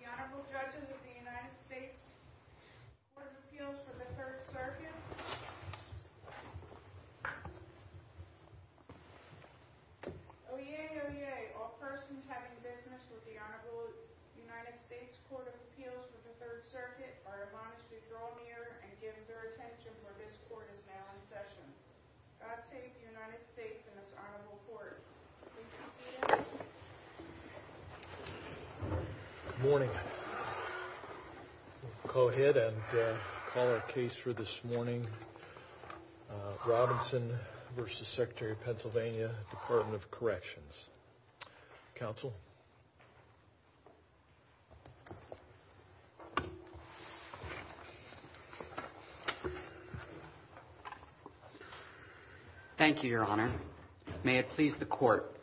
The Honorable Judges of the United States Court of Appeals for the Third and Fourth Circuit. Oyez, oyez, all persons having business with the Honorable United States Court of Appeals for the Third Circuit are admonished to draw near and give their attention where this court is now in session. God save the United States and this honorable court. Please be seated. Good morning. We'll go ahead and call our case for this morning. Robinson v. Secretary of Pennsylvania, Department of Corrections. Counsel. Thank you, Your Honor. May it please the court.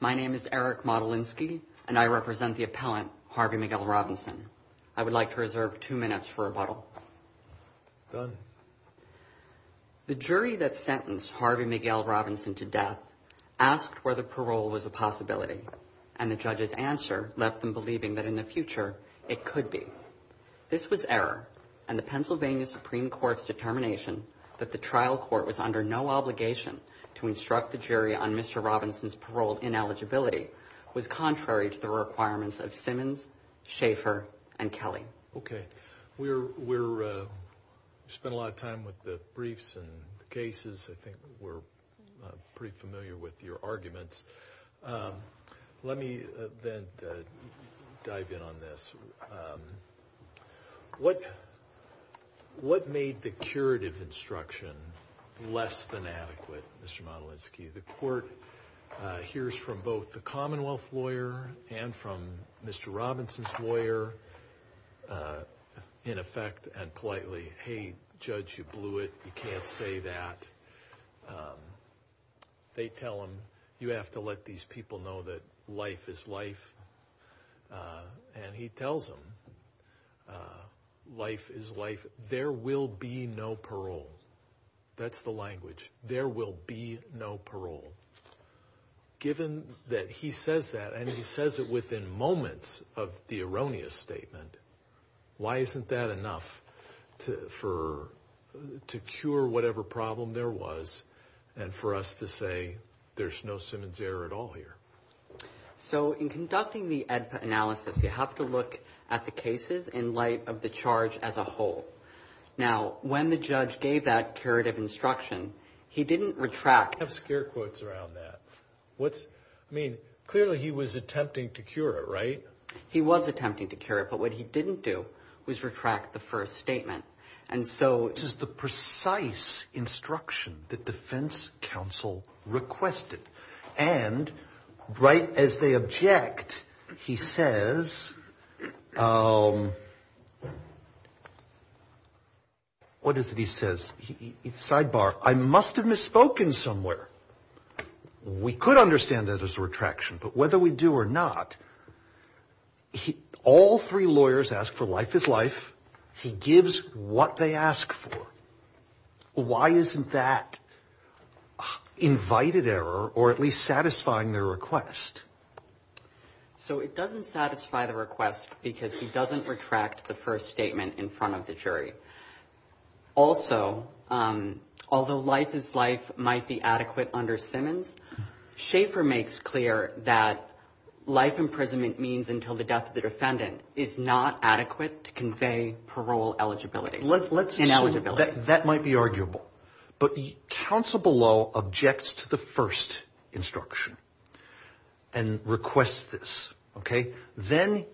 My name is Eric Modolinsky, and I represent the appellant, Harvey Miguel Robinson. I would like to reserve two minutes for rebuttal. Done. The jury that sentenced Harvey Miguel Robinson to death asked whether parole was a possibility, and the judge's answer left them believing that in the future, it could be. This was error, and the Pennsylvania Supreme Court's determination that the trial court was under no obligation to instruct the jury on Mr. Robinson's parole ineligibility was contrary to the requirements of Simmons, Schaffer, and Kelly. Okay. We spent a lot of time with the briefs and the cases. I think we're pretty familiar with your arguments. Let me then dive in on this. What made the curative instruction less than adequate, Mr. Modolinsky? The court hears from both the Commonwealth lawyer and from Mr. Robinson's lawyer, in effect, and politely, hey, judge, you blew it. You can't say that. They tell him, you have to let these people know that life is life, and he tells them, life is life. There will be no parole. That's the language. There will be no parole. Given that he says that, and he says it within moments of the erroneous statement, why isn't that enough to cure whatever problem there was and for us to say, there's no Simmons error at all here? So in conducting the analysis, you have to look at the cases in light of the charge as a whole. Now, when the judge gave that curative instruction, he didn't retract. You have scare quotes around that. I mean, clearly he was attempting to cure it, right? He was attempting to cure it, but what he didn't do was retract the first statement. This is the precise instruction that defense counsel requested, and right as they object, he says, what is it he says? Sidebar. I must have misspoken somewhere. We could understand that as a retraction, but whether we do or not, all three lawyers ask for life is life. He gives what they ask for. Why isn't that invited error or at least satisfying their request? So it doesn't satisfy the request because he doesn't retract the first statement in front of the jury. Also, although life is life might be adequate under Simmons, Schaefer makes clear that life imprisonment means until the death of the defendant is not adequate to convey parole eligibility. That might be arguable, but counsel below objects to the first instruction and requests this. Then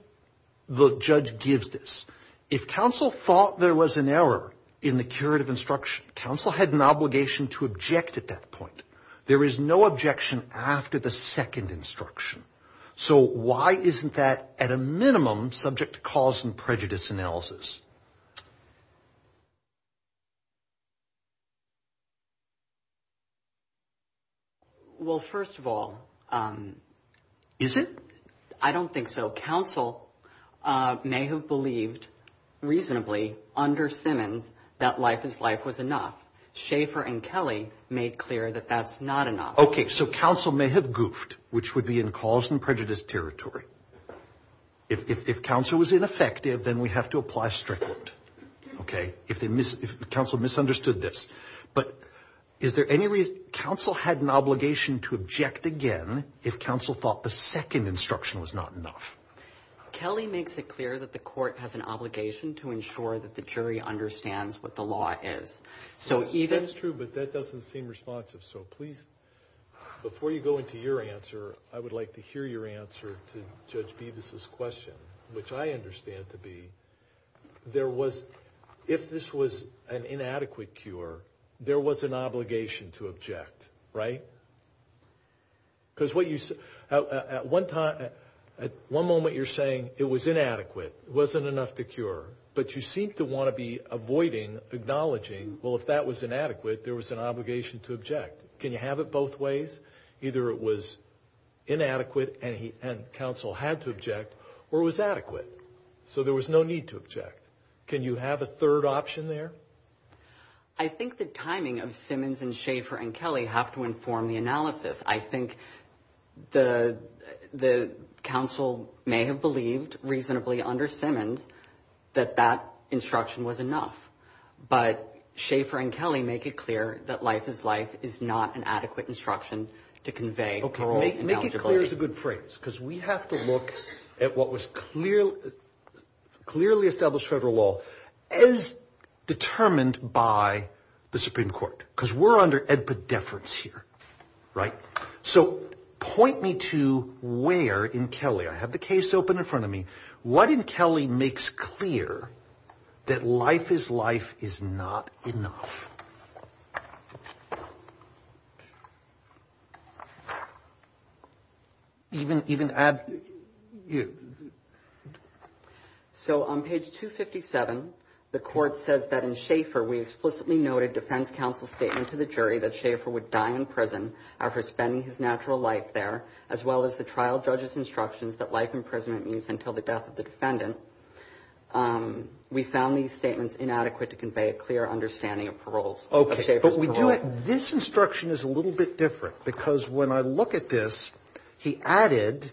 the judge gives this. If counsel thought there was an error in the curative instruction, counsel had an obligation to object at that point. There is no objection after the second instruction. So why isn't that at a minimum subject to cause and prejudice analysis? Well, first of all, is it? I don't think so. Counsel may have believed reasonably under Simmons that life is life was enough. Schaefer and Kelly made clear that that's not enough. OK, so counsel may have goofed, which would be in cause and prejudice territory. If counsel was ineffective, then we have to apply strict. OK, if the council misunderstood this. But is there any reason counsel had an obligation to object again if counsel thought the second instruction was not enough? Kelly makes it clear that the court has an obligation to ensure that the jury understands what the law is. So that's true, but that doesn't seem responsive. So please, before you go into your answer, I would like to hear your answer to Judge Beavis's question, which I understand to be there was if this was an inadequate cure, there was an obligation to object, right? Because at one moment you're saying it was inadequate, it wasn't enough to cure, but you seem to want to be avoiding acknowledging, well, if that was inadequate, there was an obligation to object. Can you have it both ways? Either it was inadequate and counsel had to object, or it was adequate, so there was no need to object. Can you have a third option there? I think the timing of Simmons and Schaefer and Kelly have to inform the analysis. I think the council may have believed reasonably under Simmons that that instruction was enough. But Schaefer and Kelly make it clear that life is life is not an adequate instruction to convey parole. Make it clear is a good phrase, because we have to look at what was clearly established federal law as determined by the Supreme Court, because we're under epideference here, right? So point me to where in Kelly, I have the case open in front of me, what in Kelly makes clear that life is life is not enough? So on page 257, the court says that in Schaefer we explicitly noted defense counsel's statement to the jury that Schaefer would die in prison after spending his natural life there, as well as the trial judge's instructions that life in prison means until the death of the defendant. We found these statements inadequate to convey a clear understanding of parole. Okay, but we do it. This instruction is a little bit different, because when I look at this, he added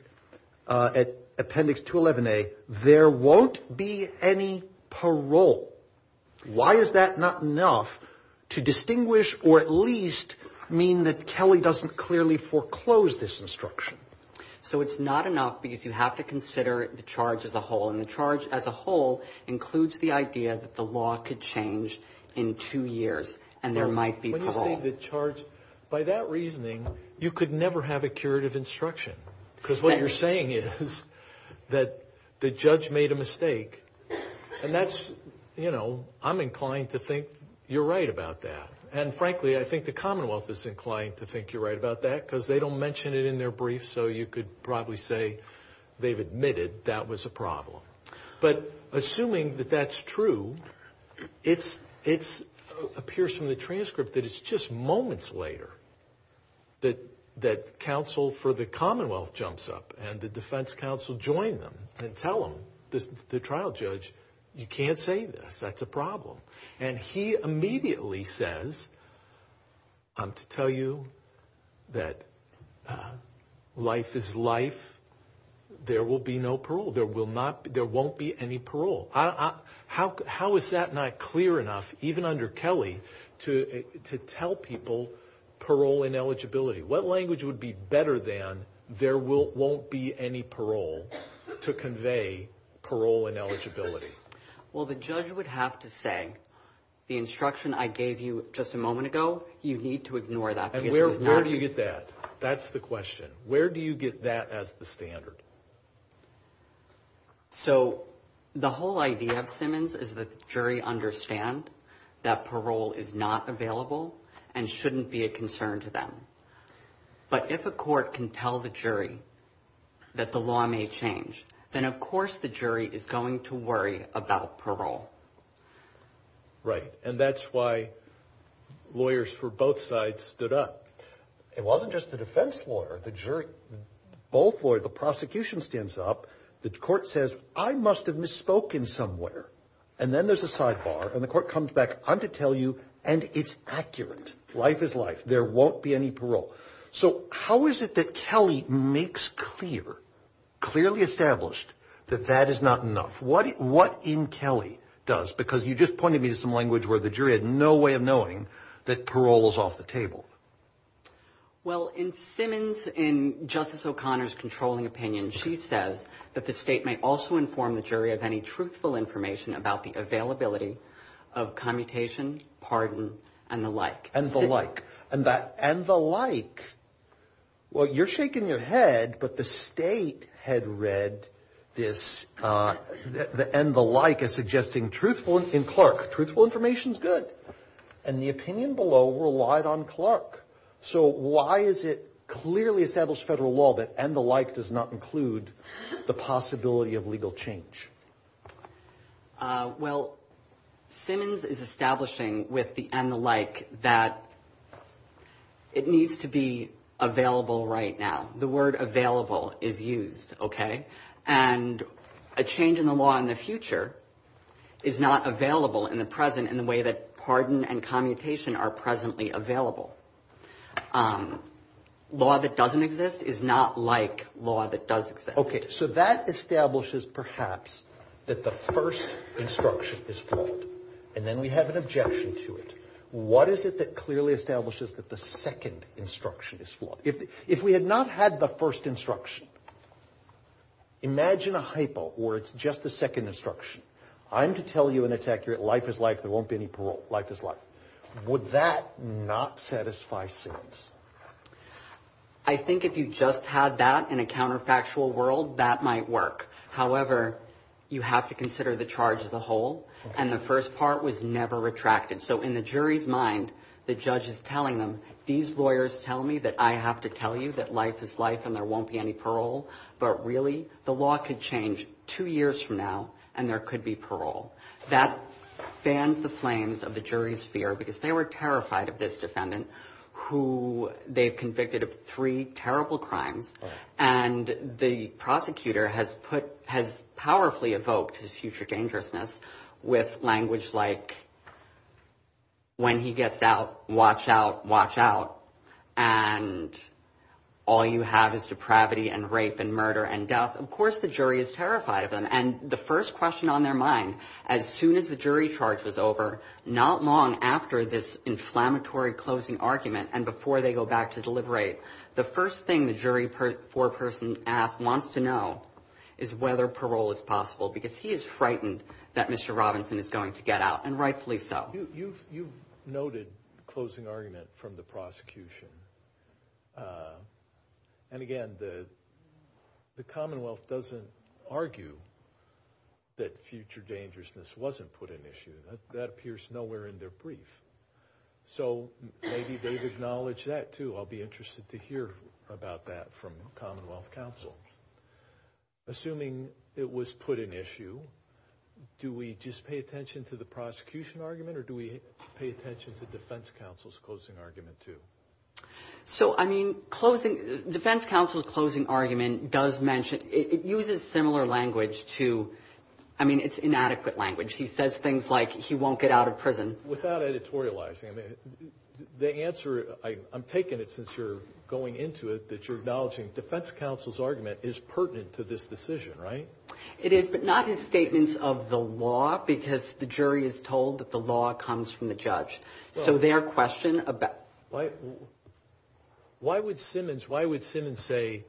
at Appendix 211A, there won't be any parole. Why is that not enough to distinguish or at least mean that Kelly doesn't clearly foreclose this instruction? So it's not enough because you have to consider the charge as a whole, and the charge as a whole includes the idea that the law could change in two years, and there might be parole. By that reasoning, you could never have a curative instruction, because what you're saying is that the judge made a mistake, and that's, you know, I'm inclined to think you're right about that. And frankly, I think the Commonwealth is inclined to think you're right about that, because they don't mention it in their brief, so you could probably say they've admitted that was a problem. But assuming that that's true, it appears from the transcript that it's just moments later that counsel for the Commonwealth jumps up and the defense counsel join them and tell them, the trial judge, you can't say this. That's a problem. And he immediately says, I'm to tell you that life is life. There will be no parole. There won't be any parole. How is that not clear enough, even under Kelly, to tell people parole and eligibility? What language would be better than there won't be any parole to convey parole and eligibility? Well, the judge would have to say, the instruction I gave you just a moment ago, you need to ignore that. And where do you get that? That's the question. Where do you get that as the standard? So the whole idea of Simmons is that the jury understand that parole is not available and shouldn't be a concern to them. But if a court can tell the jury that the law may change, then of course the jury is going to worry about parole. Right. And that's why lawyers for both sides stood up. It wasn't just the defense lawyer, the jury, both lawyers, the prosecution stands up. The court says, I must have misspoken somewhere. And then there's a sidebar. And the court comes back, I'm to tell you, and it's accurate. Life is life. There won't be any parole. So how is it that Kelly makes clear, clearly established that that is not enough? What what in Kelly does, because you just pointed me to some language where the jury had no way of knowing that parole was off the table. Well, in Simmons, in Justice O'Connor's controlling opinion, she says that the state may also inform the jury of any truthful information about the availability of commutation, pardon and the like. And that and the like. Well, you're shaking your head. But the state had read this and the like as suggesting truthful in Clark. Truthful information is good. And the opinion below relied on Clark. So why is it clearly established federal law that and the like does not include the possibility of legal change? Well, Simmons is establishing with the and the like that. It needs to be available right now. The word available is used. OK. And a change in the law in the future is not available in the present in the way that pardon and commutation are presently available. Law that doesn't exist is not like law that does. OK. So that establishes perhaps that the first instruction is flawed and then we have an objection to it. What is it that clearly establishes that the second instruction is flawed? If if we had not had the first instruction. Imagine a hypo or it's just the second instruction. I'm to tell you and it's accurate. Life is life. There won't be any parole. Life is life. Would that not satisfy sentence? I think if you just had that in a counterfactual world, that might work. However, you have to consider the charge as a whole. And the first part was never retracted. So in the jury's mind, the judge is telling them, these lawyers tell me that I have to tell you that life is life and there won't be any parole. But really, the law could change two years from now and there could be parole. That fans the flames of the jury's fear because they were terrified of this defendant who they've convicted of three terrible crimes. And the prosecutor has put has powerfully evoked his future dangerousness with language like. When he gets out, watch out, watch out. And all you have is depravity and rape and murder and death. Of course, the jury is terrified of them. And the first question on their mind, as soon as the jury charge was over, not long after this inflammatory closing argument and before they go back to deliberate, the first thing the jury for a person wants to know is whether parole is possible, because he is frightened that Mr. Robinson is going to get out. And rightfully so. You've noted the closing argument from the prosecution. And again, the Commonwealth doesn't argue that future dangerousness wasn't put in issue. That appears nowhere in their brief. So maybe they've acknowledged that, too. I'll be interested to hear about that from Commonwealth counsel. Assuming it was put in issue, do we just pay attention to the prosecution argument or do we pay attention to defense counsel's closing argument, too? So, I mean, defense counsel's closing argument does mention, it uses similar language to, I mean, it's inadequate language. He says things like he won't get out of prison. Without editorializing, the answer, I'm taking it since you're going into it, that you're acknowledging defense counsel's argument is pertinent to this decision, right? It is, but not his statements of the law, because the jury is told that the law comes from the judge. So their question about... Why would Simmons say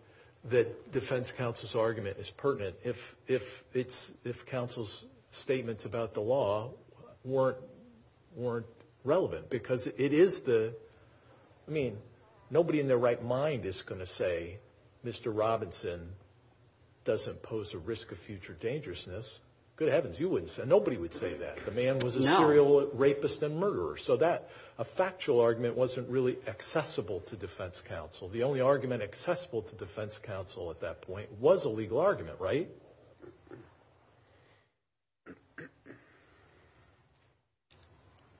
that defense counsel's argument is pertinent if counsel's statements about the law weren't relevant? Because it is the, I mean, nobody in their right mind is going to say, Mr. Robinson doesn't pose a risk of future dangerousness. Good heavens, you wouldn't say, nobody would say that. The man was a serial rapist and murderer. So that, a factual argument wasn't really accessible to defense counsel. The only argument accessible to defense counsel at that point was a legal argument, right?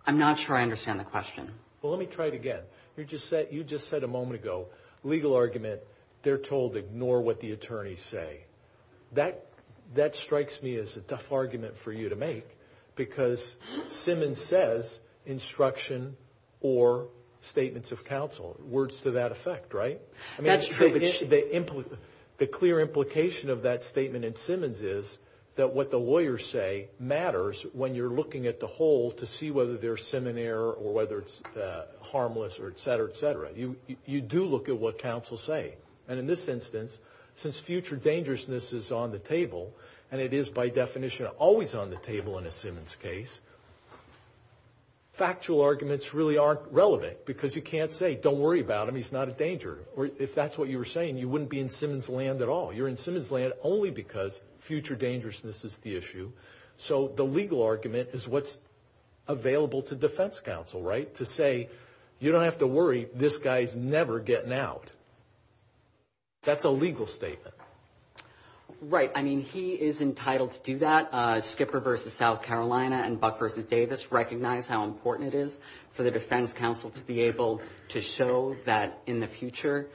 I'm not sure I understand the question. Well, let me try it again. You just said a moment ago, legal argument, they're told ignore what the attorneys say. That strikes me as a tough argument for you to make, because Simmons says instruction or statements of counsel, words to that effect, right? That's true. The clear implication of that statement in Simmons is that what the lawyers say matters when you're looking at the whole to see whether there's seminary or whether it's harmless or et cetera, et cetera. You do look at what counsel say. And in this instance, since future dangerousness is on the table, and it is by definition always on the table in a Simmons case, factual arguments really aren't relevant because you can't say, don't worry about him, he's not a danger. Or if that's what you were saying, you wouldn't be in Simmons' land at all. You're in Simmons' land only because future dangerousness is the issue. So the legal argument is what's available to defense counsel, right, to say, you don't have to worry, this guy's never getting out. That's a legal statement. Right. I mean, he is entitled to do that. Skipper versus South Carolina and Buck versus Davis recognize how important it is for the defense counsel to be able to show that in the future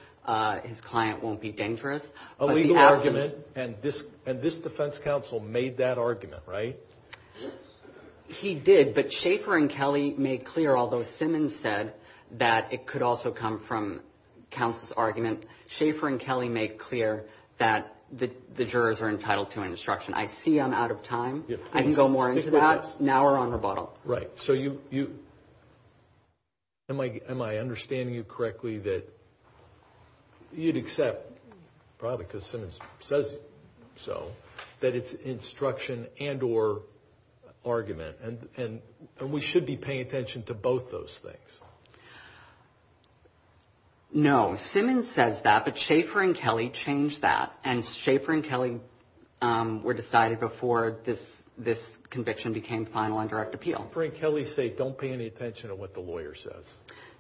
his client won't be dangerous. A legal argument, and this defense counsel made that argument, right? He did, but Schaefer and Kelly made clear, although Simmons said that it could also come from counsel's argument, Schaefer and Kelly made clear that the jurors are entitled to an instruction. I see I'm out of time. I can go more into that. Now we're on rebuttal. Right. So am I understanding you correctly that you'd accept, probably because Simmons says so, that it's instruction and or argument, and we should be paying attention to both those things? No. Simmons says that, but Schaefer and Kelly changed that, and Schaefer and Kelly were decided before this conviction became final and direct appeal. Schaefer and Kelly say don't pay any attention to what the lawyer says.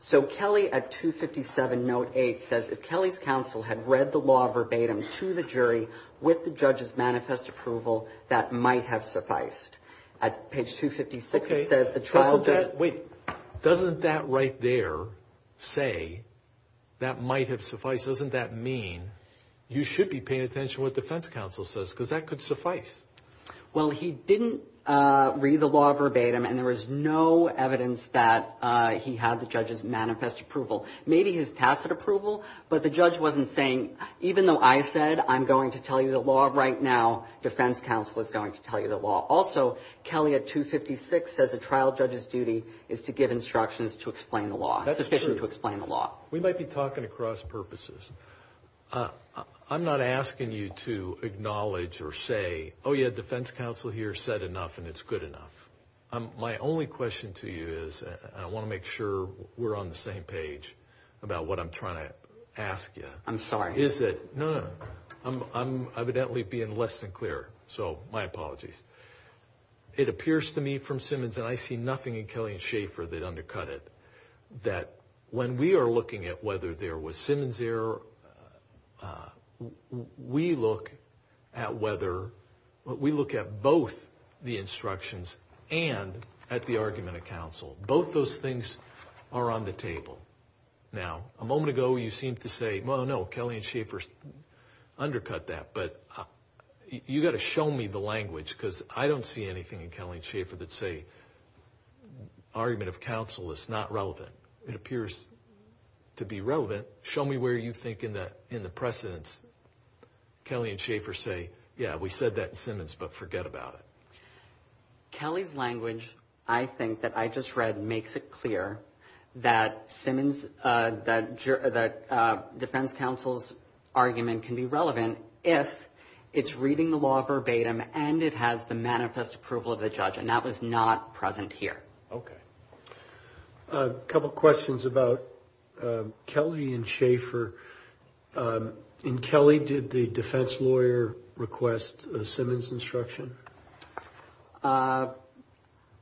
So Kelly, at 257, note 8, says, if Kelly's counsel had read the law verbatim to the jury with the judge's manifest approval, that might have sufficed. At page 256, it says the child did. Wait, doesn't that right there say that might have sufficed? If the judge says doesn't that mean you should be paying attention to what the defense counsel says, because that could suffice. Well, he didn't read the law verbatim, and there was no evidence that he had the judge's manifest approval, maybe his tacit approval, but the judge wasn't saying even though I said I'm going to tell you the law right now, defense counsel is going to tell you the law. Also, Kelly at 256 says a trial judge's duty is to give instructions to explain the law, sufficient to explain the law. We might be talking across purposes. I'm not asking you to acknowledge or say, oh, yeah, defense counsel here said enough and it's good enough. My only question to you is I want to make sure we're on the same page about what I'm trying to ask you. I'm sorry. No, no. I'm evidently being less than clear, so my apologies. It appears to me from Simmons, and I see nothing in Kelly and Schaefer that undercut it, that when we are looking at whether there was Simmons error, we look at both the instructions and at the argument of counsel. Both those things are on the table. Now, a moment ago you seemed to say, well, no, Kelly and Schaefer undercut that, but you've got to show me the language because I don't see anything in Kelly and Schaefer that say the argument of counsel is not relevant. It appears to be relevant. Show me where you think in the precedents Kelly and Schaefer say, yeah, we said that in Simmons, but forget about it. Kelly's language, I think, that I just read makes it clear that Simmons, that defense counsel's argument can be relevant if it's reading the law verbatim and it has the manifest approval of the judge, and that was not present here. Okay. A couple questions about Kelly and Schaefer. In Kelly, did the defense lawyer request a Simmons instruction?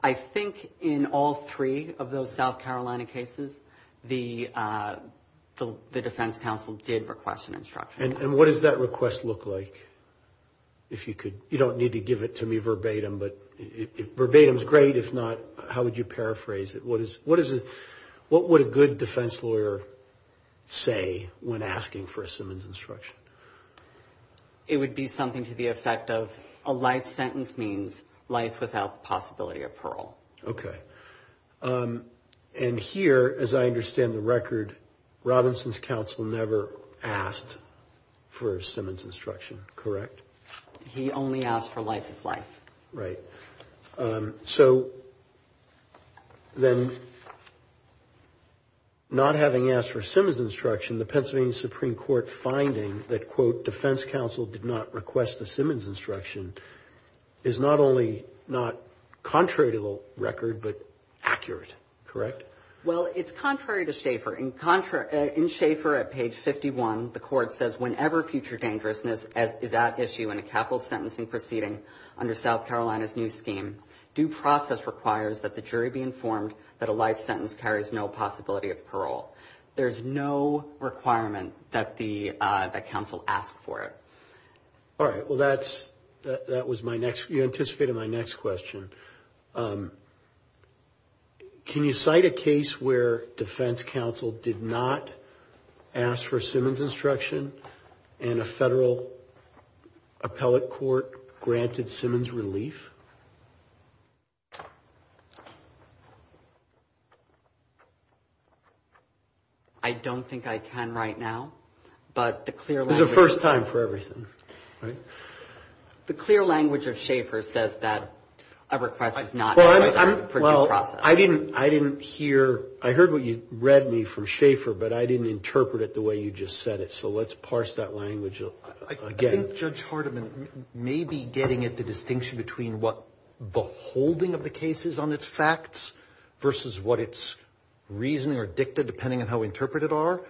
I think in all three of those South Carolina cases the defense counsel did request an instruction. And what does that request look like? You don't need to give it to me verbatim, but verbatim is great. If not, how would you paraphrase it? What would a good defense lawyer say when asking for a Simmons instruction? It would be something to the effect of a life sentence means life without possibility of parole. Okay. And here, as I understand the record, Robinson's counsel never asked for a Simmons instruction, correct? He only asked for life is life. Right. So then not having asked for a Simmons instruction, the Pennsylvania Supreme Court finding that, quote, accurate, correct? Well, it's contrary to Schaefer. In Schaefer at page 51, the court says, whenever future dangerousness is at issue in a capital sentencing proceeding under South Carolina's new scheme, due process requires that the jury be informed that a life sentence carries no possibility of parole. There's no requirement that the counsel ask for it. All right. Well, that was my next, you anticipated my next question. Can you cite a case where defense counsel did not ask for a Simmons instruction and a federal appellate court granted Simmons relief? I don't think I can right now. This is the first time for everything, right? The clear language of Schaefer says that a request is not necessary for due process. Well, I didn't hear. I heard what you read me from Schaefer, but I didn't interpret it the way you just said it. So let's parse that language again. I think Judge Hardiman may be getting at the distinction between what the holding of the case is on its facts versus what its reasoning or dicta, depending on how we interpret it, are.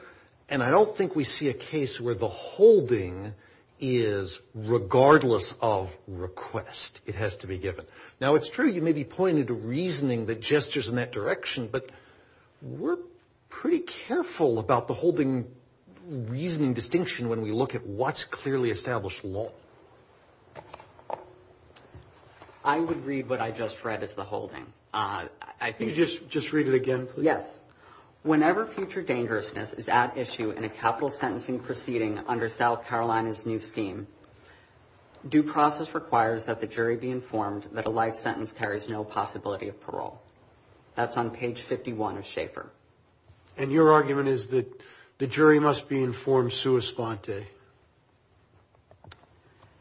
And I don't think we see a case where the holding is regardless of request. It has to be given. Now, it's true you may be pointing to reasoning that gestures in that direction, but we're pretty careful about the holding reasoning distinction when we look at what's clearly established law. I would read what I just read as the holding. Just read it again, please. Yes. Whenever future dangerousness is at issue in a capital sentencing proceeding under South Carolina's new scheme, due process requires that the jury be informed that a life sentence carries no possibility of parole. That's on page 51 of Schaefer. And your argument is that the jury must be informed sua sponte.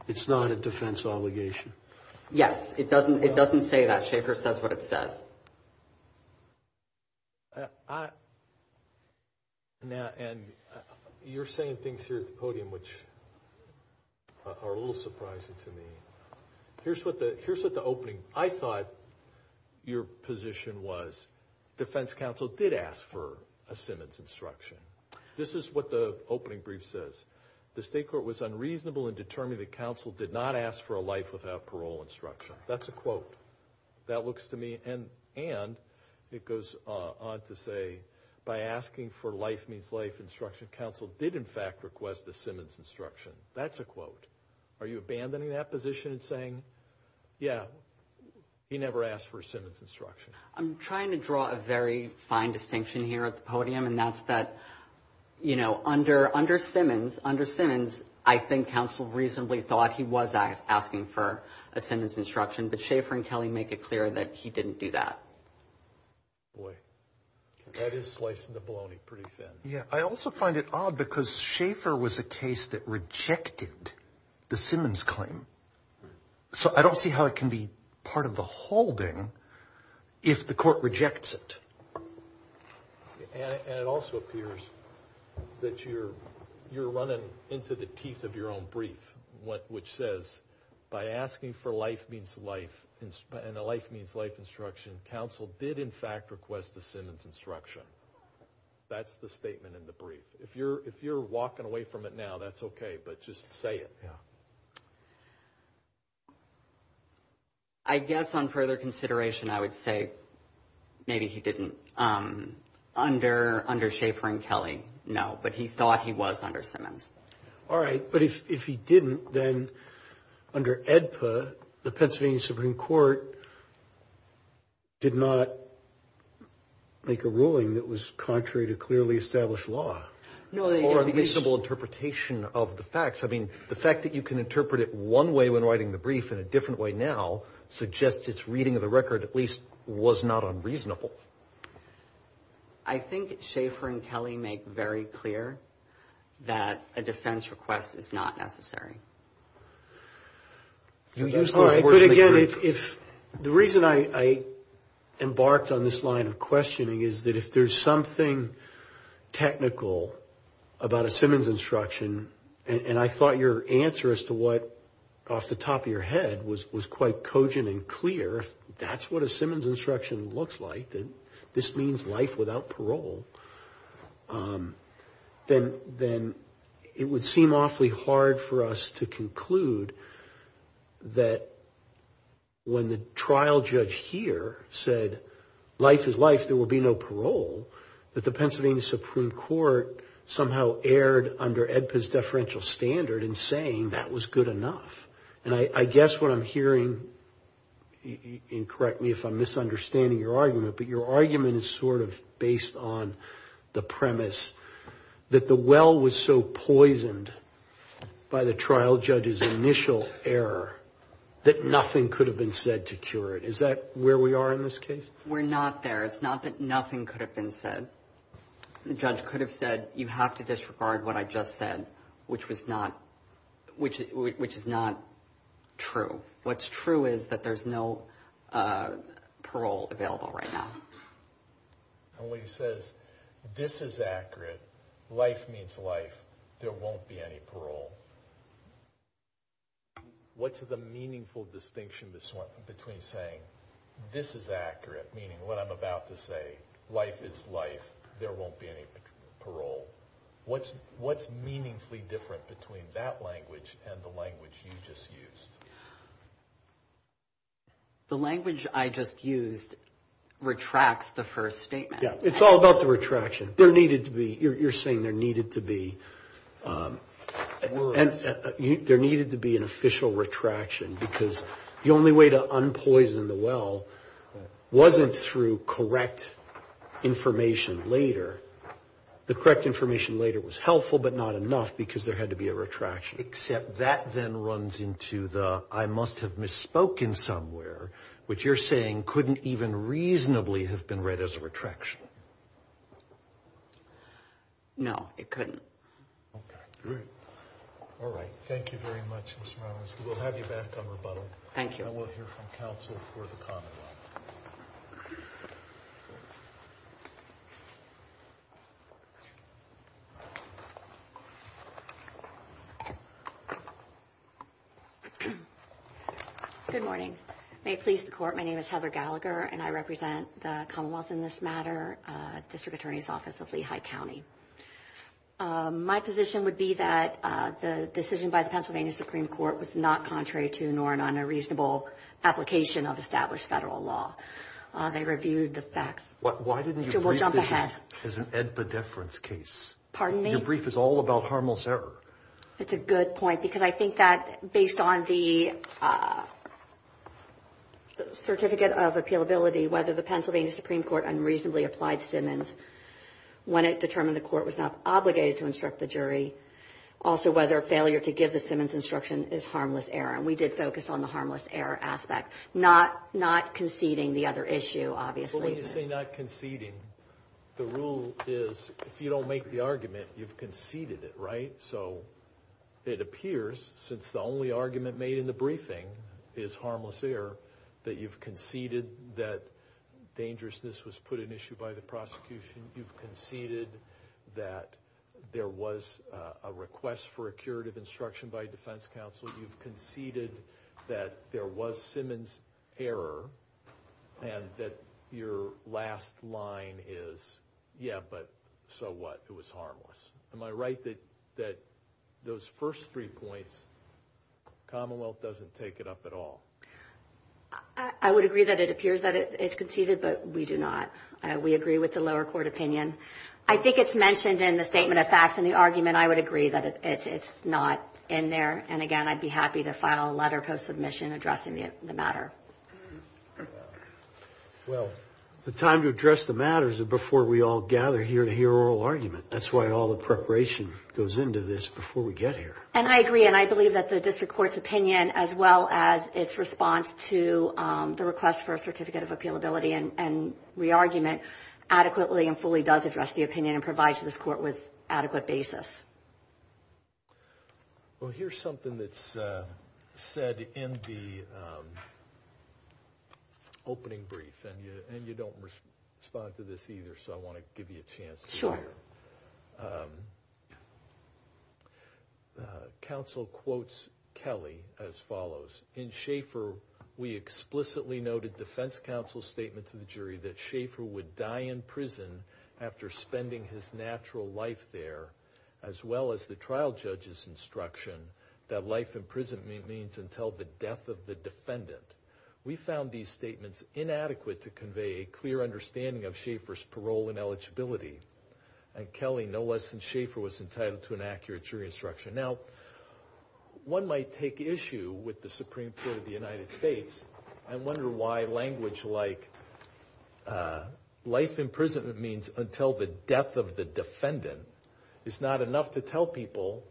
It's not a defense obligation. Yes. It doesn't say that. Schaefer says what it says. And you're saying things here at the podium which are a little surprising to me. Here's what the opening, I thought your position was. Defense counsel did ask for a Simmons instruction. This is what the opening brief says. The state court was unreasonable in determining that counsel did not ask for a life without parole instruction. Yeah, that's a quote. That looks to me, and it goes on to say, by asking for life means life instruction, counsel did in fact request a Simmons instruction. That's a quote. Are you abandoning that position and saying, yeah, he never asked for a Simmons instruction? I'm trying to draw a very fine distinction here at the podium, and that's that, you know, under Simmons, I think counsel reasonably thought he was asking for a Simmons instruction, but Schaefer and Kelly make it clear that he didn't do that. Boy, that is slicing the bologna pretty thin. Yeah. I also find it odd because Schaefer was a case that rejected the Simmons claim. So I don't see how it can be part of the holding if the court rejects it. And it also appears that you're running into the teeth of your own brief, which says, by asking for life means life and a life means life instruction, counsel did in fact request a Simmons instruction. That's the statement in the brief. If you're walking away from it now, that's okay, but just say it. Yeah. I guess on further consideration, I would say maybe he didn't. Under Schaefer and Kelly, no, but he thought he was under Simmons. All right. But if he didn't, then under AEDPA, the Pennsylvania Supreme Court did not make a ruling that was contrary to clearly established law. Or a reasonable interpretation of the facts. I mean, the fact that you can interpret it one way when writing the brief in a different way now suggests its reading of the record at least was not unreasonable. I think Schaefer and Kelly make very clear that a defense request is not necessary. All right. But again, the reason I embarked on this line of questioning is that if there's something technical about a Simmons instruction, and I thought your answer as to what off the top of your head was quite cogent and clear, if that's what a Simmons instruction looks like, that this means life without parole, then it would seem awfully hard for us to conclude that when the trial judge here said, life is life, there will be no parole, that the Pennsylvania Supreme Court somehow erred under AEDPA's deferential standard in saying that was good enough. And I guess what I'm hearing, and correct me if I'm misunderstanding your argument, but your argument is sort of based on the premise that the well was so poisoned by the trial judge's initial error that nothing could have been said to cure it. Is that where we are in this case? We're not there. It's not that nothing could have been said. The judge could have said, you have to disregard what I just said, which is not true. What's true is that there's no parole available right now. And when he says, this is accurate, life means life, there won't be any parole, what's the meaningful distinction between saying, this is accurate, meaning what I'm about to say, life is life, there won't be any parole? What's meaningfully different between that language and the language you just used? The language I just used retracts the first statement. Yeah, it's all about the retraction. You're saying there needed to be an official retraction because the only way to unpoison the well wasn't through correct information later. The correct information later was helpful but not enough because there had to be a retraction. Except that then runs into the, I must have misspoken somewhere, which you're saying couldn't even reasonably have been read as a retraction. No, it couldn't. Okay, good. All right. Thank you very much, Mr. Malinowski. We'll have you back on rebuttal. Thank you. And we'll hear from counsel for the commonwealth. Good morning. May it please the court, my name is Heather Gallagher and I represent the commonwealth in this matter, District Attorney's Office of Lehigh County. My position would be that the decision by the Pennsylvania Supreme Court was not contrary to nor non-reasonable application of established federal law. They reviewed the facts. Why didn't you brief this as an ed-bedeference case? Pardon me? Your brief is all about harmless error. That's a good point because I think that, based on the certificate of appealability, whether the Pennsylvania Supreme Court unreasonably applied Simmons when it determined the court was not obligated to instruct the jury, also whether failure to give the Simmons instruction is harmless error. And we did focus on the harmless error aspect. Not conceding the other issue, obviously. So when you say not conceding, the rule is if you don't make the argument, you've conceded it, right? So it appears, since the only argument made in the briefing is harmless error, that you've conceded that dangerousness was put in issue by the prosecution. You've conceded that there was a request for a curative instruction by a defense counsel. You've conceded that there was Simmons error and that your last line is, yeah, but so what? It was harmless. Am I right that those first three points, Commonwealth doesn't take it up at all? I would agree that it appears that it's conceded, but we do not. We agree with the lower court opinion. I think it's mentioned in the statement of facts in the argument. I would agree that it's not in there. And, again, I'd be happy to file a letter post-submission addressing the matter. Well, the time to address the matter is before we all gather here to hear oral argument. That's why all the preparation goes into this before we get here. And I agree, and I believe that the district court's opinion, as well as its response to the request for a certificate of appealability and re-argument adequately and fully does address the opinion and provides this court with adequate basis. Well, here's something that's said in the opening brief. And you don't respond to this either, so I want to give you a chance to hear it. Sure. Counsel quotes Kelly as follows. In Schaefer, we explicitly noted defense counsel's statement to the jury that Schaefer would die in prison after spending his natural life there, as well as the trial judge's instruction that life in prison means until the death of the defendant. We found these statements inadequate to convey a clear understanding of Schaefer's parole and eligibility. And Kelly, no less than Schaefer, was entitled to an accurate jury instruction. Now, one might take issue with the Supreme Court of the United States I wonder why language like life in prison means until the death of the defendant is not enough to tell people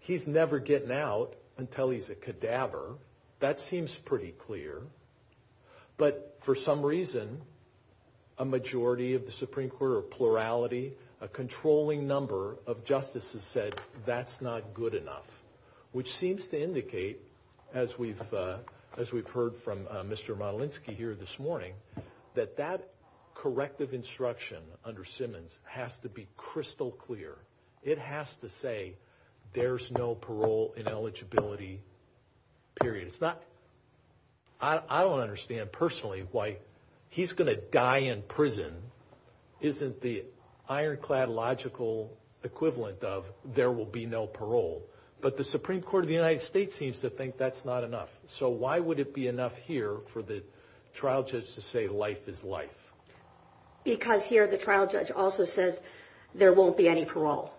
he's never getting out until he's a cadaver. That seems pretty clear. But for some reason, a majority of the Supreme Court or plurality, a controlling number of justices said that's not good enough, which seems to indicate, as we've heard from Mr. Motelinski here this morning, that that corrective instruction under Simmons has to be crystal clear. It has to say there's no parole and eligibility, period. I don't understand personally why he's going to die in prison isn't the ironclad logical equivalent of there will be no parole. But the Supreme Court of the United States seems to think that's not enough. So why would it be enough here for the trial judge to say life is life? Because here the trial judge also says there won't be any parole.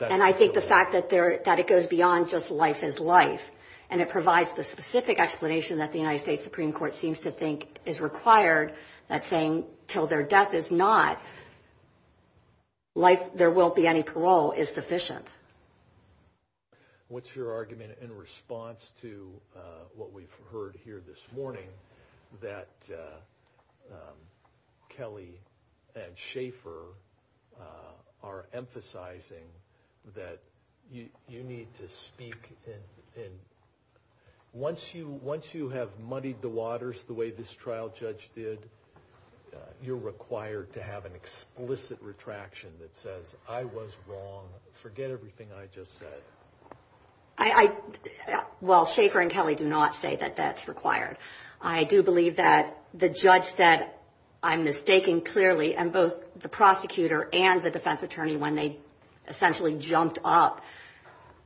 And I think the fact that it goes beyond just life is life, and it provides the specific explanation that the United States Supreme Court seems to think is required, that saying until their death is not, life, there won't be any parole, is sufficient. What's your argument in response to what we've heard here this morning that Kelly and Schaefer are emphasizing that you need to speak? Once you have muddied the waters the way this trial judge did, you're required to have an explicit retraction that says I was wrong, forget everything I just said. Well, Schaefer and Kelly do not say that that's required. I do believe that the judge said I'm mistaken clearly, and both the prosecutor and the defense attorney when they essentially jumped up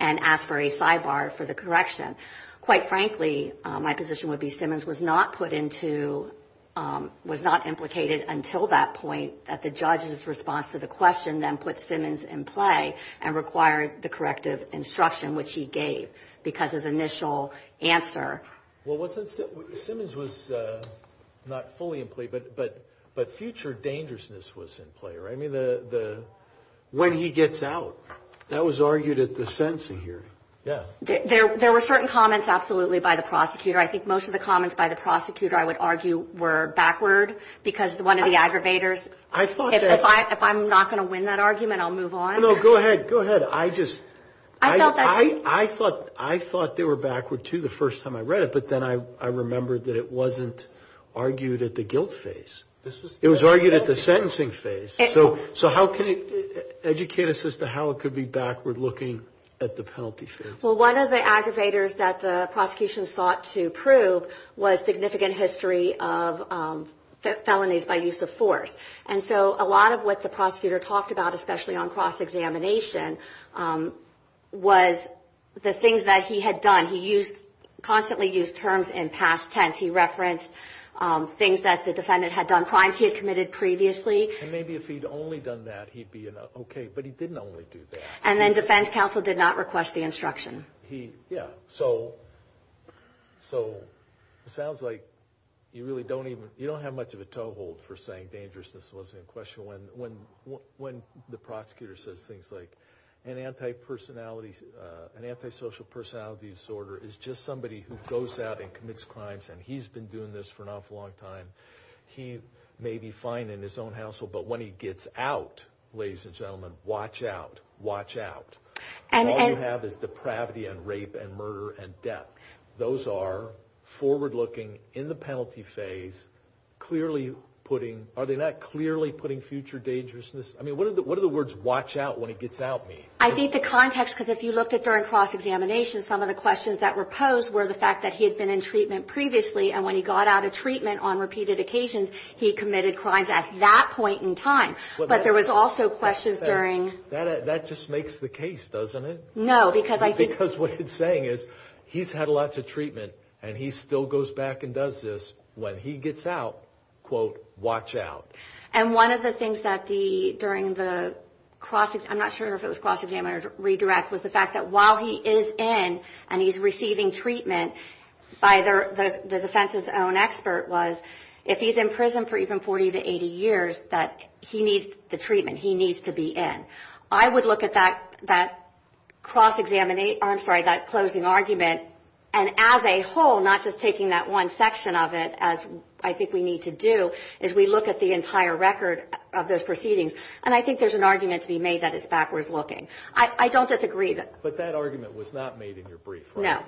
and asked for a sidebar for the correction. Quite frankly, my position would be Simmons was not put into, was not implicated until that point that the judge's response to the question then put Simmons in play and required the corrective instruction which he gave because his initial answer. Well, Simmons was not fully in play, but future dangerousness was in play, right? I mean, when he gets out, that was argued at the sentencing hearing, yeah. There were certain comments absolutely by the prosecutor. I think most of the comments by the prosecutor, I would argue, were backward because one of the aggravators. If I'm not going to win that argument, I'll move on. No, go ahead, go ahead. I thought they were backward, too, the first time I read it, but then I remembered that it wasn't argued at the guilt phase. It was argued at the sentencing phase. So how can you educate us as to how it could be backward looking at the penalty phase? Well, one of the aggravators that the prosecution sought to prove was significant history of felonies by use of force. And so a lot of what the prosecutor talked about, especially on cross-examination, was the things that he had done. He constantly used terms in past tense. He referenced things that the defendant had done, crimes he had committed previously. And maybe if he'd only done that, he'd be okay, but he didn't only do that. And then defense counsel did not request the instruction. So it sounds like you don't have much of a toehold for saying dangerousness wasn't in question. When the prosecutor says things like an antisocial personality disorder is just somebody who goes out and commits crimes, and he's been doing this for an awful long time, he may be fine in his own household. But when he gets out, ladies and gentlemen, watch out, watch out. All you have is depravity and rape and murder and death. Those are forward looking in the penalty phase, clearly putting – are they not clearly putting future dangerousness – I mean, what do the words watch out when he gets out mean? I think the context, because if you looked at during cross-examination, some of the questions that were posed were the fact that he had been in treatment previously, and when he got out of treatment on repeated occasions, he committed crimes at that point in time. But there was also questions during – That just makes the case, doesn't it? No, because I think – Because what it's saying is he's had lots of treatment, and he still goes back and does this. When he gets out, quote, watch out. And one of the things that the – during the cross – I'm not sure if it was cross-examination or redirect, was the fact that while he is in and he's receiving treatment, the defense's own expert was if he's in prison for even 40 to 80 years, that he needs the treatment. He needs to be in. I would look at that cross-examination – I'm sorry, that closing argument, and as a whole, not just taking that one section of it, as I think we need to do, is we look at the entire record of those proceedings, and I think there's an argument to be made that it's backwards looking. I don't disagree that – But that argument was not made in your brief, right? No.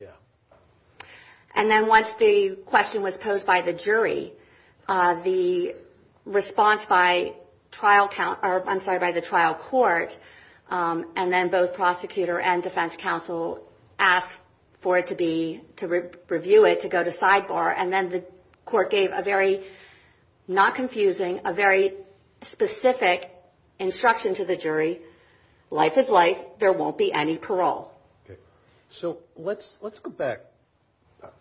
Yeah. And then once the question was posed by the jury, the response by trial – I'm sorry, by the trial court, and then both prosecutor and defense counsel asked for it to be – to review it, to go to sidebar, and then the court gave a very – not confusing – a very specific instruction to the jury, life is life, there won't be any parole. Okay. So let's go back.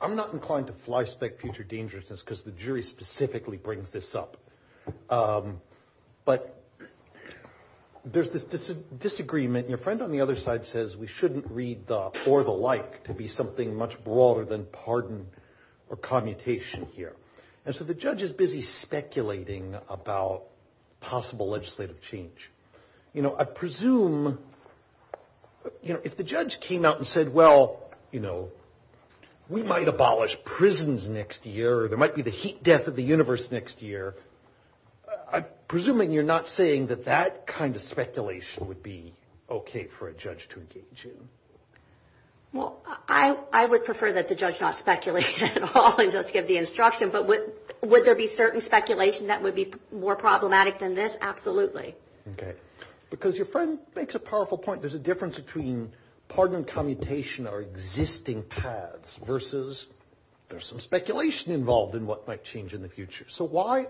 I'm not inclined to flyspeck future dangerousness because the jury specifically brings this up. But there's this disagreement, and your friend on the other side says we shouldn't read the or the like to be something much broader than pardon or commutation here. And so the judge is busy speculating about possible legislative change. You know, I presume if the judge came out and said, well, you know, we might abolish prisons next year or there might be the heat death of the universe next year, I'm presuming you're not saying that that kind of speculation would be okay for a judge to engage in. Well, I would prefer that the judge not speculate at all and just give the instruction. But would there be certain speculation that would be more problematic than this? Absolutely. Okay. Because your friend makes a powerful point. There's a difference between pardon and commutation are existing paths versus there's some speculation involved in what might change in the future. So why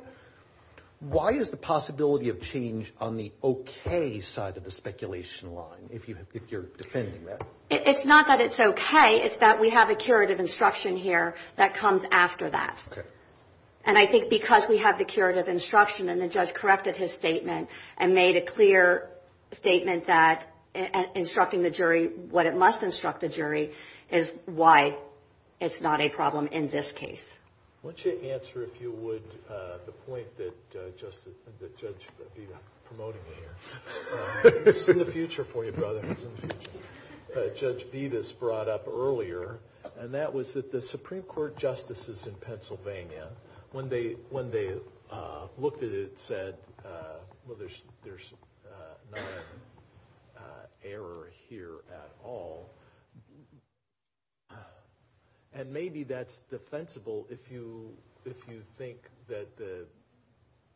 is the possibility of change on the okay side of the speculation line if you're defending that? It's not that it's okay. It's that we have a curative instruction here that comes after that. Okay. And I think because we have the curative instruction and the judge corrected his statement and made a clear statement that instructing the jury what it must instruct the jury is why it's not a problem in this case. Why don't you answer, if you would, the point that Judge Bevis brought up earlier, and that was that the Supreme Court justices in Pennsylvania, when they looked at it, said, well, there's not an error here at all. And maybe that's defensible if you think that the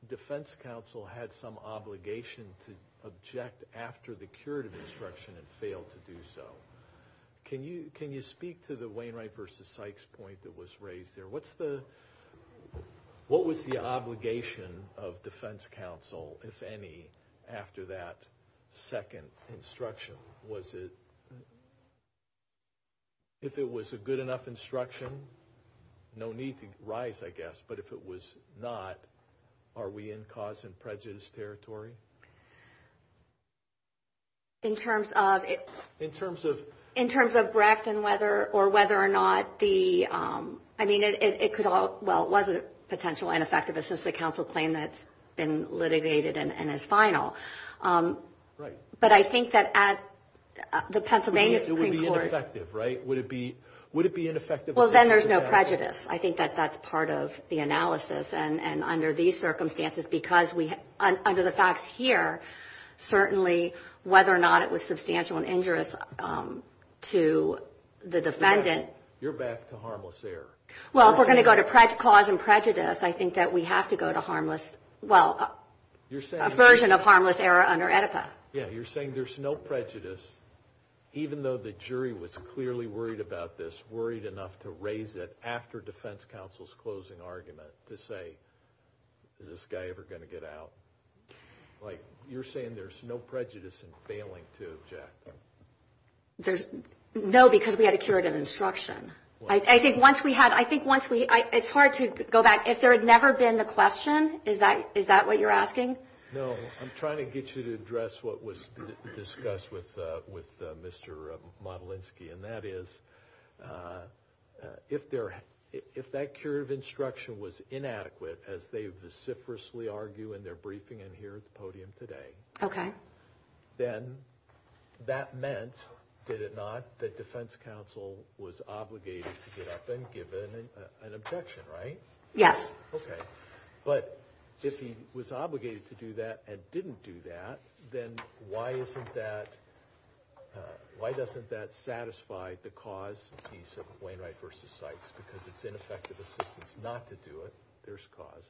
defense counsel had some obligation to object after the curative instruction and failed to do so. Can you speak to the Wainwright versus Sykes point that was raised there? What was the obligation of defense counsel, if any, after that second instruction? If it was a good enough instruction, no need to rise, I guess. But if it was not, are we in cause and prejudice territory? In terms of Brecht and whether or whether or not the, I mean, it could all, well, it was a potential ineffective assistive counsel claim that's been litigated and is final. Right. But I think that at the Pennsylvania Supreme Court. It would be ineffective, right? Would it be ineffective? Well, then there's no prejudice. I think that that's part of the analysis. And under these circumstances, because we, under the facts here, certainly whether or not it was substantial and injurious to the defendant. You're back to harmless error. Well, if we're going to go to cause and prejudice, I think that we have to go to harmless, well, a version of harmless error under EDIPA. Yeah, you're saying there's no prejudice, even though the jury was clearly worried about this, worried enough to raise it after defense counsel's closing argument to say, is this guy ever going to get out? Like, you're saying there's no prejudice in failing to object. No, because we had a curative instruction. I think once we had, I think once we, it's hard to go back. If there had never been the question, is that what you're asking? No, I'm trying to get you to address what was discussed with Mr. Modelinsky. And that is, if that curative instruction was inadequate, as they vociferously argue in their briefing and here at the podium today, then that meant, did it not, that defense counsel was obligated to get up and give an objection, right? Yes. Okay. But if he was obligated to do that and didn't do that, then why isn't that, why doesn't that satisfy the cause piece of Wainwright v. Sykes? Because it's ineffective assistance not to do it. There's cause.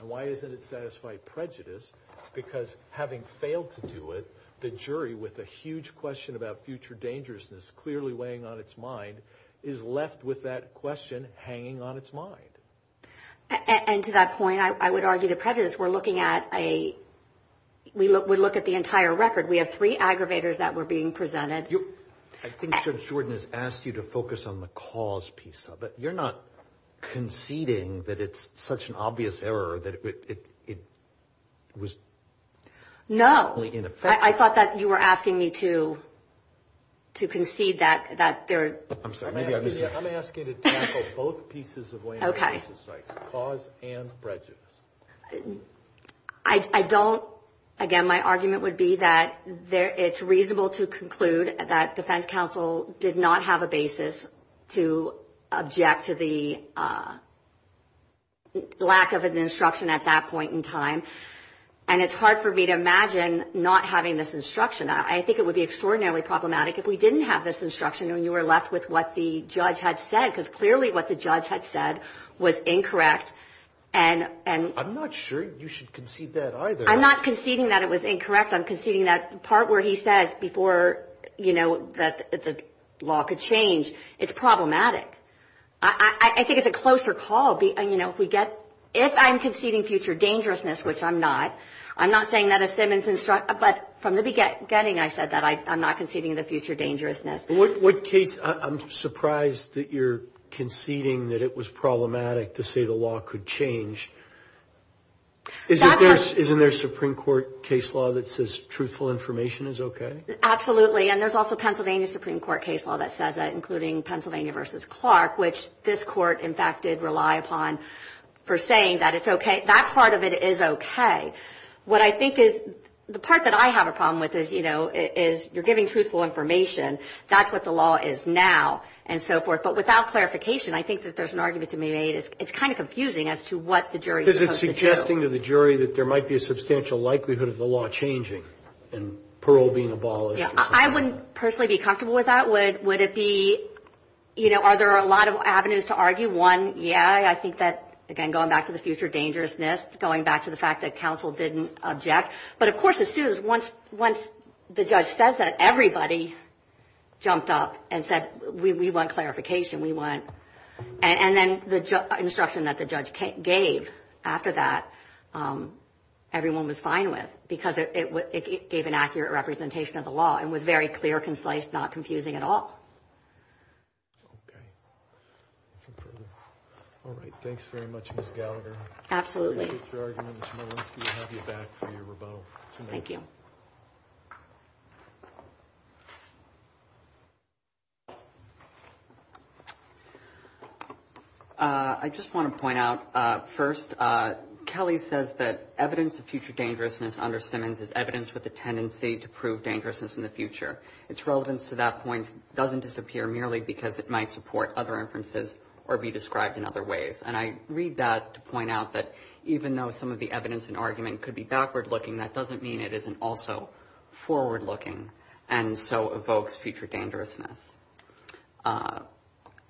And why isn't it satisfying prejudice? Because having failed to do it, the jury, with a huge question about future dangerousness clearly weighing on its mind, is left with that question hanging on its mind. And to that point, I would argue the prejudice, we're looking at a, we look at the entire record. We have three aggravators that were being presented. I think Judge Jordan has asked you to focus on the cause piece of it. You're not conceding that it's such an obvious error that it was only ineffective? No. I thought that you were asking me to concede that there. I'm sorry. I'm asking you to tackle both pieces of Wainwright v. Sykes, cause and prejudice. I don't, again, my argument would be that it's reasonable to conclude that defense counsel did not have a basis to object to the lack of an instruction at that point in time. And it's hard for me to imagine not having this instruction. I think it would be extraordinarily problematic if we didn't have this instruction and you were left with what the judge had said, because clearly what the judge had said was incorrect I'm not sure you should concede that either. I'm not conceding that it was incorrect. I'm conceding that part where he says before, you know, that the law could change. It's problematic. I think it's a closer call. You know, if we get, if I'm conceding future dangerousness, which I'm not, I'm not saying that a Simmons instruction, but from the beginning I said that I'm not conceding the future dangerousness. What case, I'm surprised that you're conceding that it was problematic to say the law could change. Isn't there a Supreme Court case law that says truthful information is okay? Absolutely, and there's also Pennsylvania Supreme Court case law that says that, including Pennsylvania v. Clark, which this court, in fact, did rely upon for saying that it's okay. That part of it is okay. What I think is, the part that I have a problem with is, you know, is you're giving truthful information. That's what the law is now, and so forth. But without clarification, I think that there's an argument to be made. It's kind of confusing as to what the jury is supposed to do. Because it's suggesting to the jury that there might be a substantial likelihood of the law changing and parole being abolished. Yeah. I wouldn't personally be comfortable with that. Would it be, you know, are there a lot of avenues to argue? One, yeah, I think that, again, going back to the future dangerousness, going back to the fact that counsel didn't object. But, of course, as soon as once the judge says that, everybody jumped up and said, we want clarification, we want. And then the instruction that the judge gave after that, everyone was fine with, because it gave an accurate representation of the law and was very clear, concise, not confusing at all. Okay. All right. Thanks very much, Ms. Gallagher. Absolutely. I appreciate your argument, Ms. Molenski. We'll have you back for your rebuttal. Thank you. I just want to point out, first, Kelly says that evidence of future dangerousness under Simmons is evidence with a tendency to prove dangerousness in the future. Its relevance to that point doesn't disappear merely because it might support other inferences or be described in other ways. And I read that to point out that even though some of the evidence and argument could be backward-looking, that doesn't mean it isn't also forward-looking, and so evokes future dangerousness.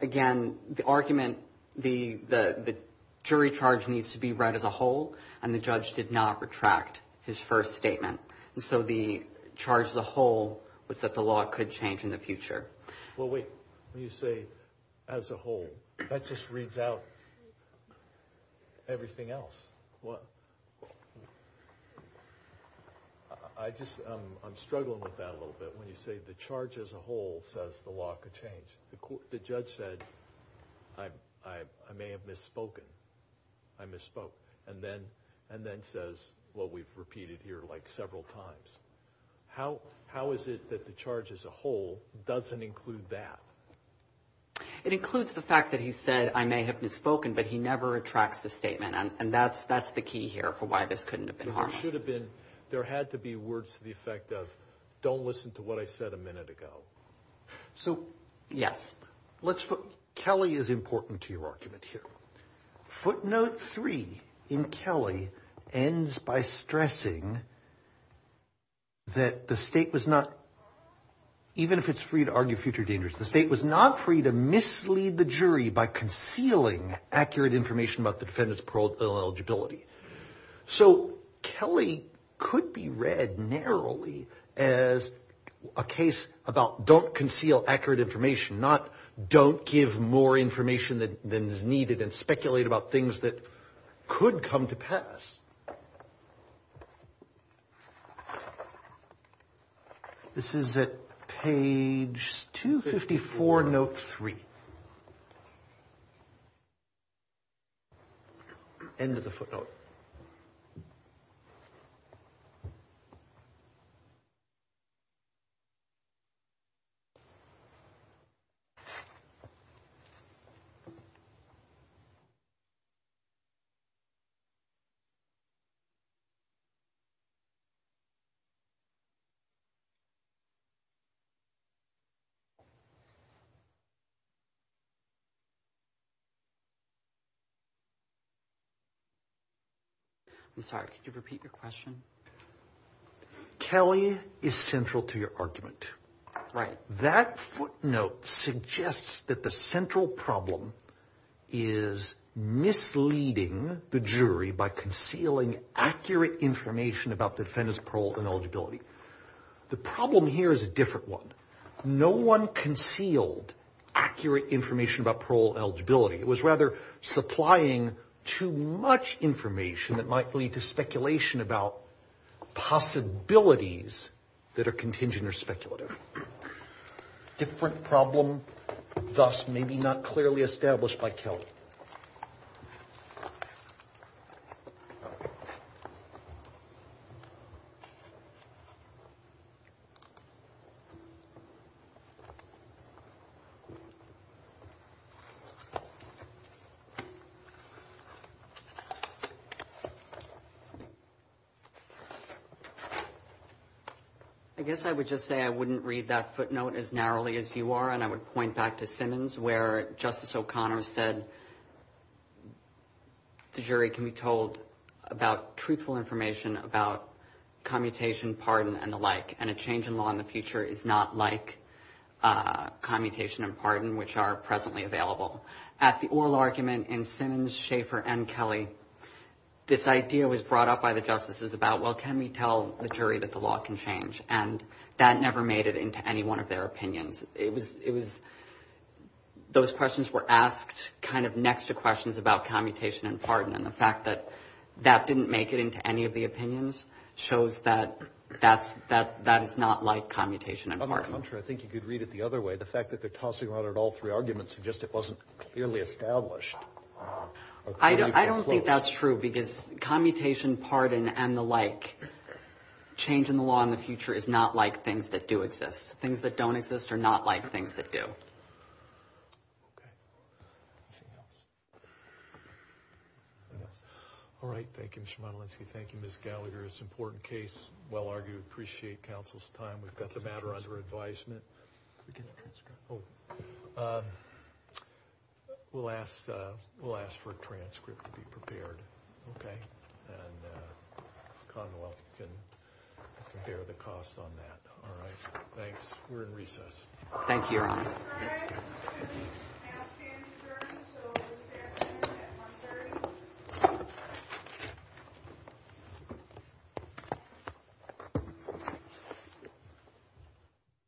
Again, the argument, the jury charge needs to be read as a whole, and the judge did not retract his first statement. So the charge as a whole was that the law could change in the future. Well, wait. When you say as a whole, that just reads out everything else. I'm struggling with that a little bit. When you say the charge as a whole says the law could change, the judge said, I may have misspoken. I misspoke. And then says what we've repeated here like several times. How is it that the charge as a whole doesn't include that? It includes the fact that he said, I may have misspoken, but he never retracts the statement, and that's the key here for why this couldn't have been harmless. There had to be words to the effect of, don't listen to what I said a minute ago. So, yes. Kelly is important to your argument here. Footnote three in Kelly ends by stressing that the state was not, even if it's free to argue future dangers, the state was not free to mislead the jury by concealing accurate information about the defendant's parole eligibility. So Kelly could be read narrowly as a case about don't conceal accurate information, not don't give more information than is needed and speculate about things that could come to pass. This is at page 254, note three. End of the footnote. I'm sorry, could you repeat your question? Kelly is central to your argument. Right. That footnote suggests that the central problem is misleading the jury by concealing accurate information about the defendant's parole and eligibility. The problem here is a different one. No one concealed accurate information about parole eligibility. It was rather supplying too much information that might lead to speculation about possibilities that are contingent or speculative. Different problem, thus maybe not clearly established by Kelly. I guess I would just say I wouldn't read that footnote as narrowly as you are, and I would point back to Simmons where Justice O'Connor said the jury can be told about truthful information, about commutation, pardon, and the like, and a change in law in the future is not like commutation and pardon, which are presently available. At the oral argument in Simmons, Schaefer, and Kelly, this idea was brought up by the justices about, well, can we tell the jury that the law can change? And that never made it into any one of their opinions. It was those questions were asked kind of next to questions about commutation and pardon, and the fact that that didn't make it into any of the opinions shows that that is not like commutation and pardon. On the contrary, I think you could read it the other way. The fact that they're tossing around all three arguments suggests it wasn't clearly established. I don't think that's true because commutation, pardon, and the like, change in the law in the future is not like things that do exist. Things that don't exist are not like things that do. Okay. Anything else? All right, thank you, Mr. Modolinski. Thank you, Ms. Gallagher. It's an important case, well-argued. Appreciate counsel's time. We've got the matter under advisement. We'll ask for a transcript to be prepared, okay? And Commonwealth can bear the cost on that. All right, thanks. We're in recess. Thank you, Your Honor.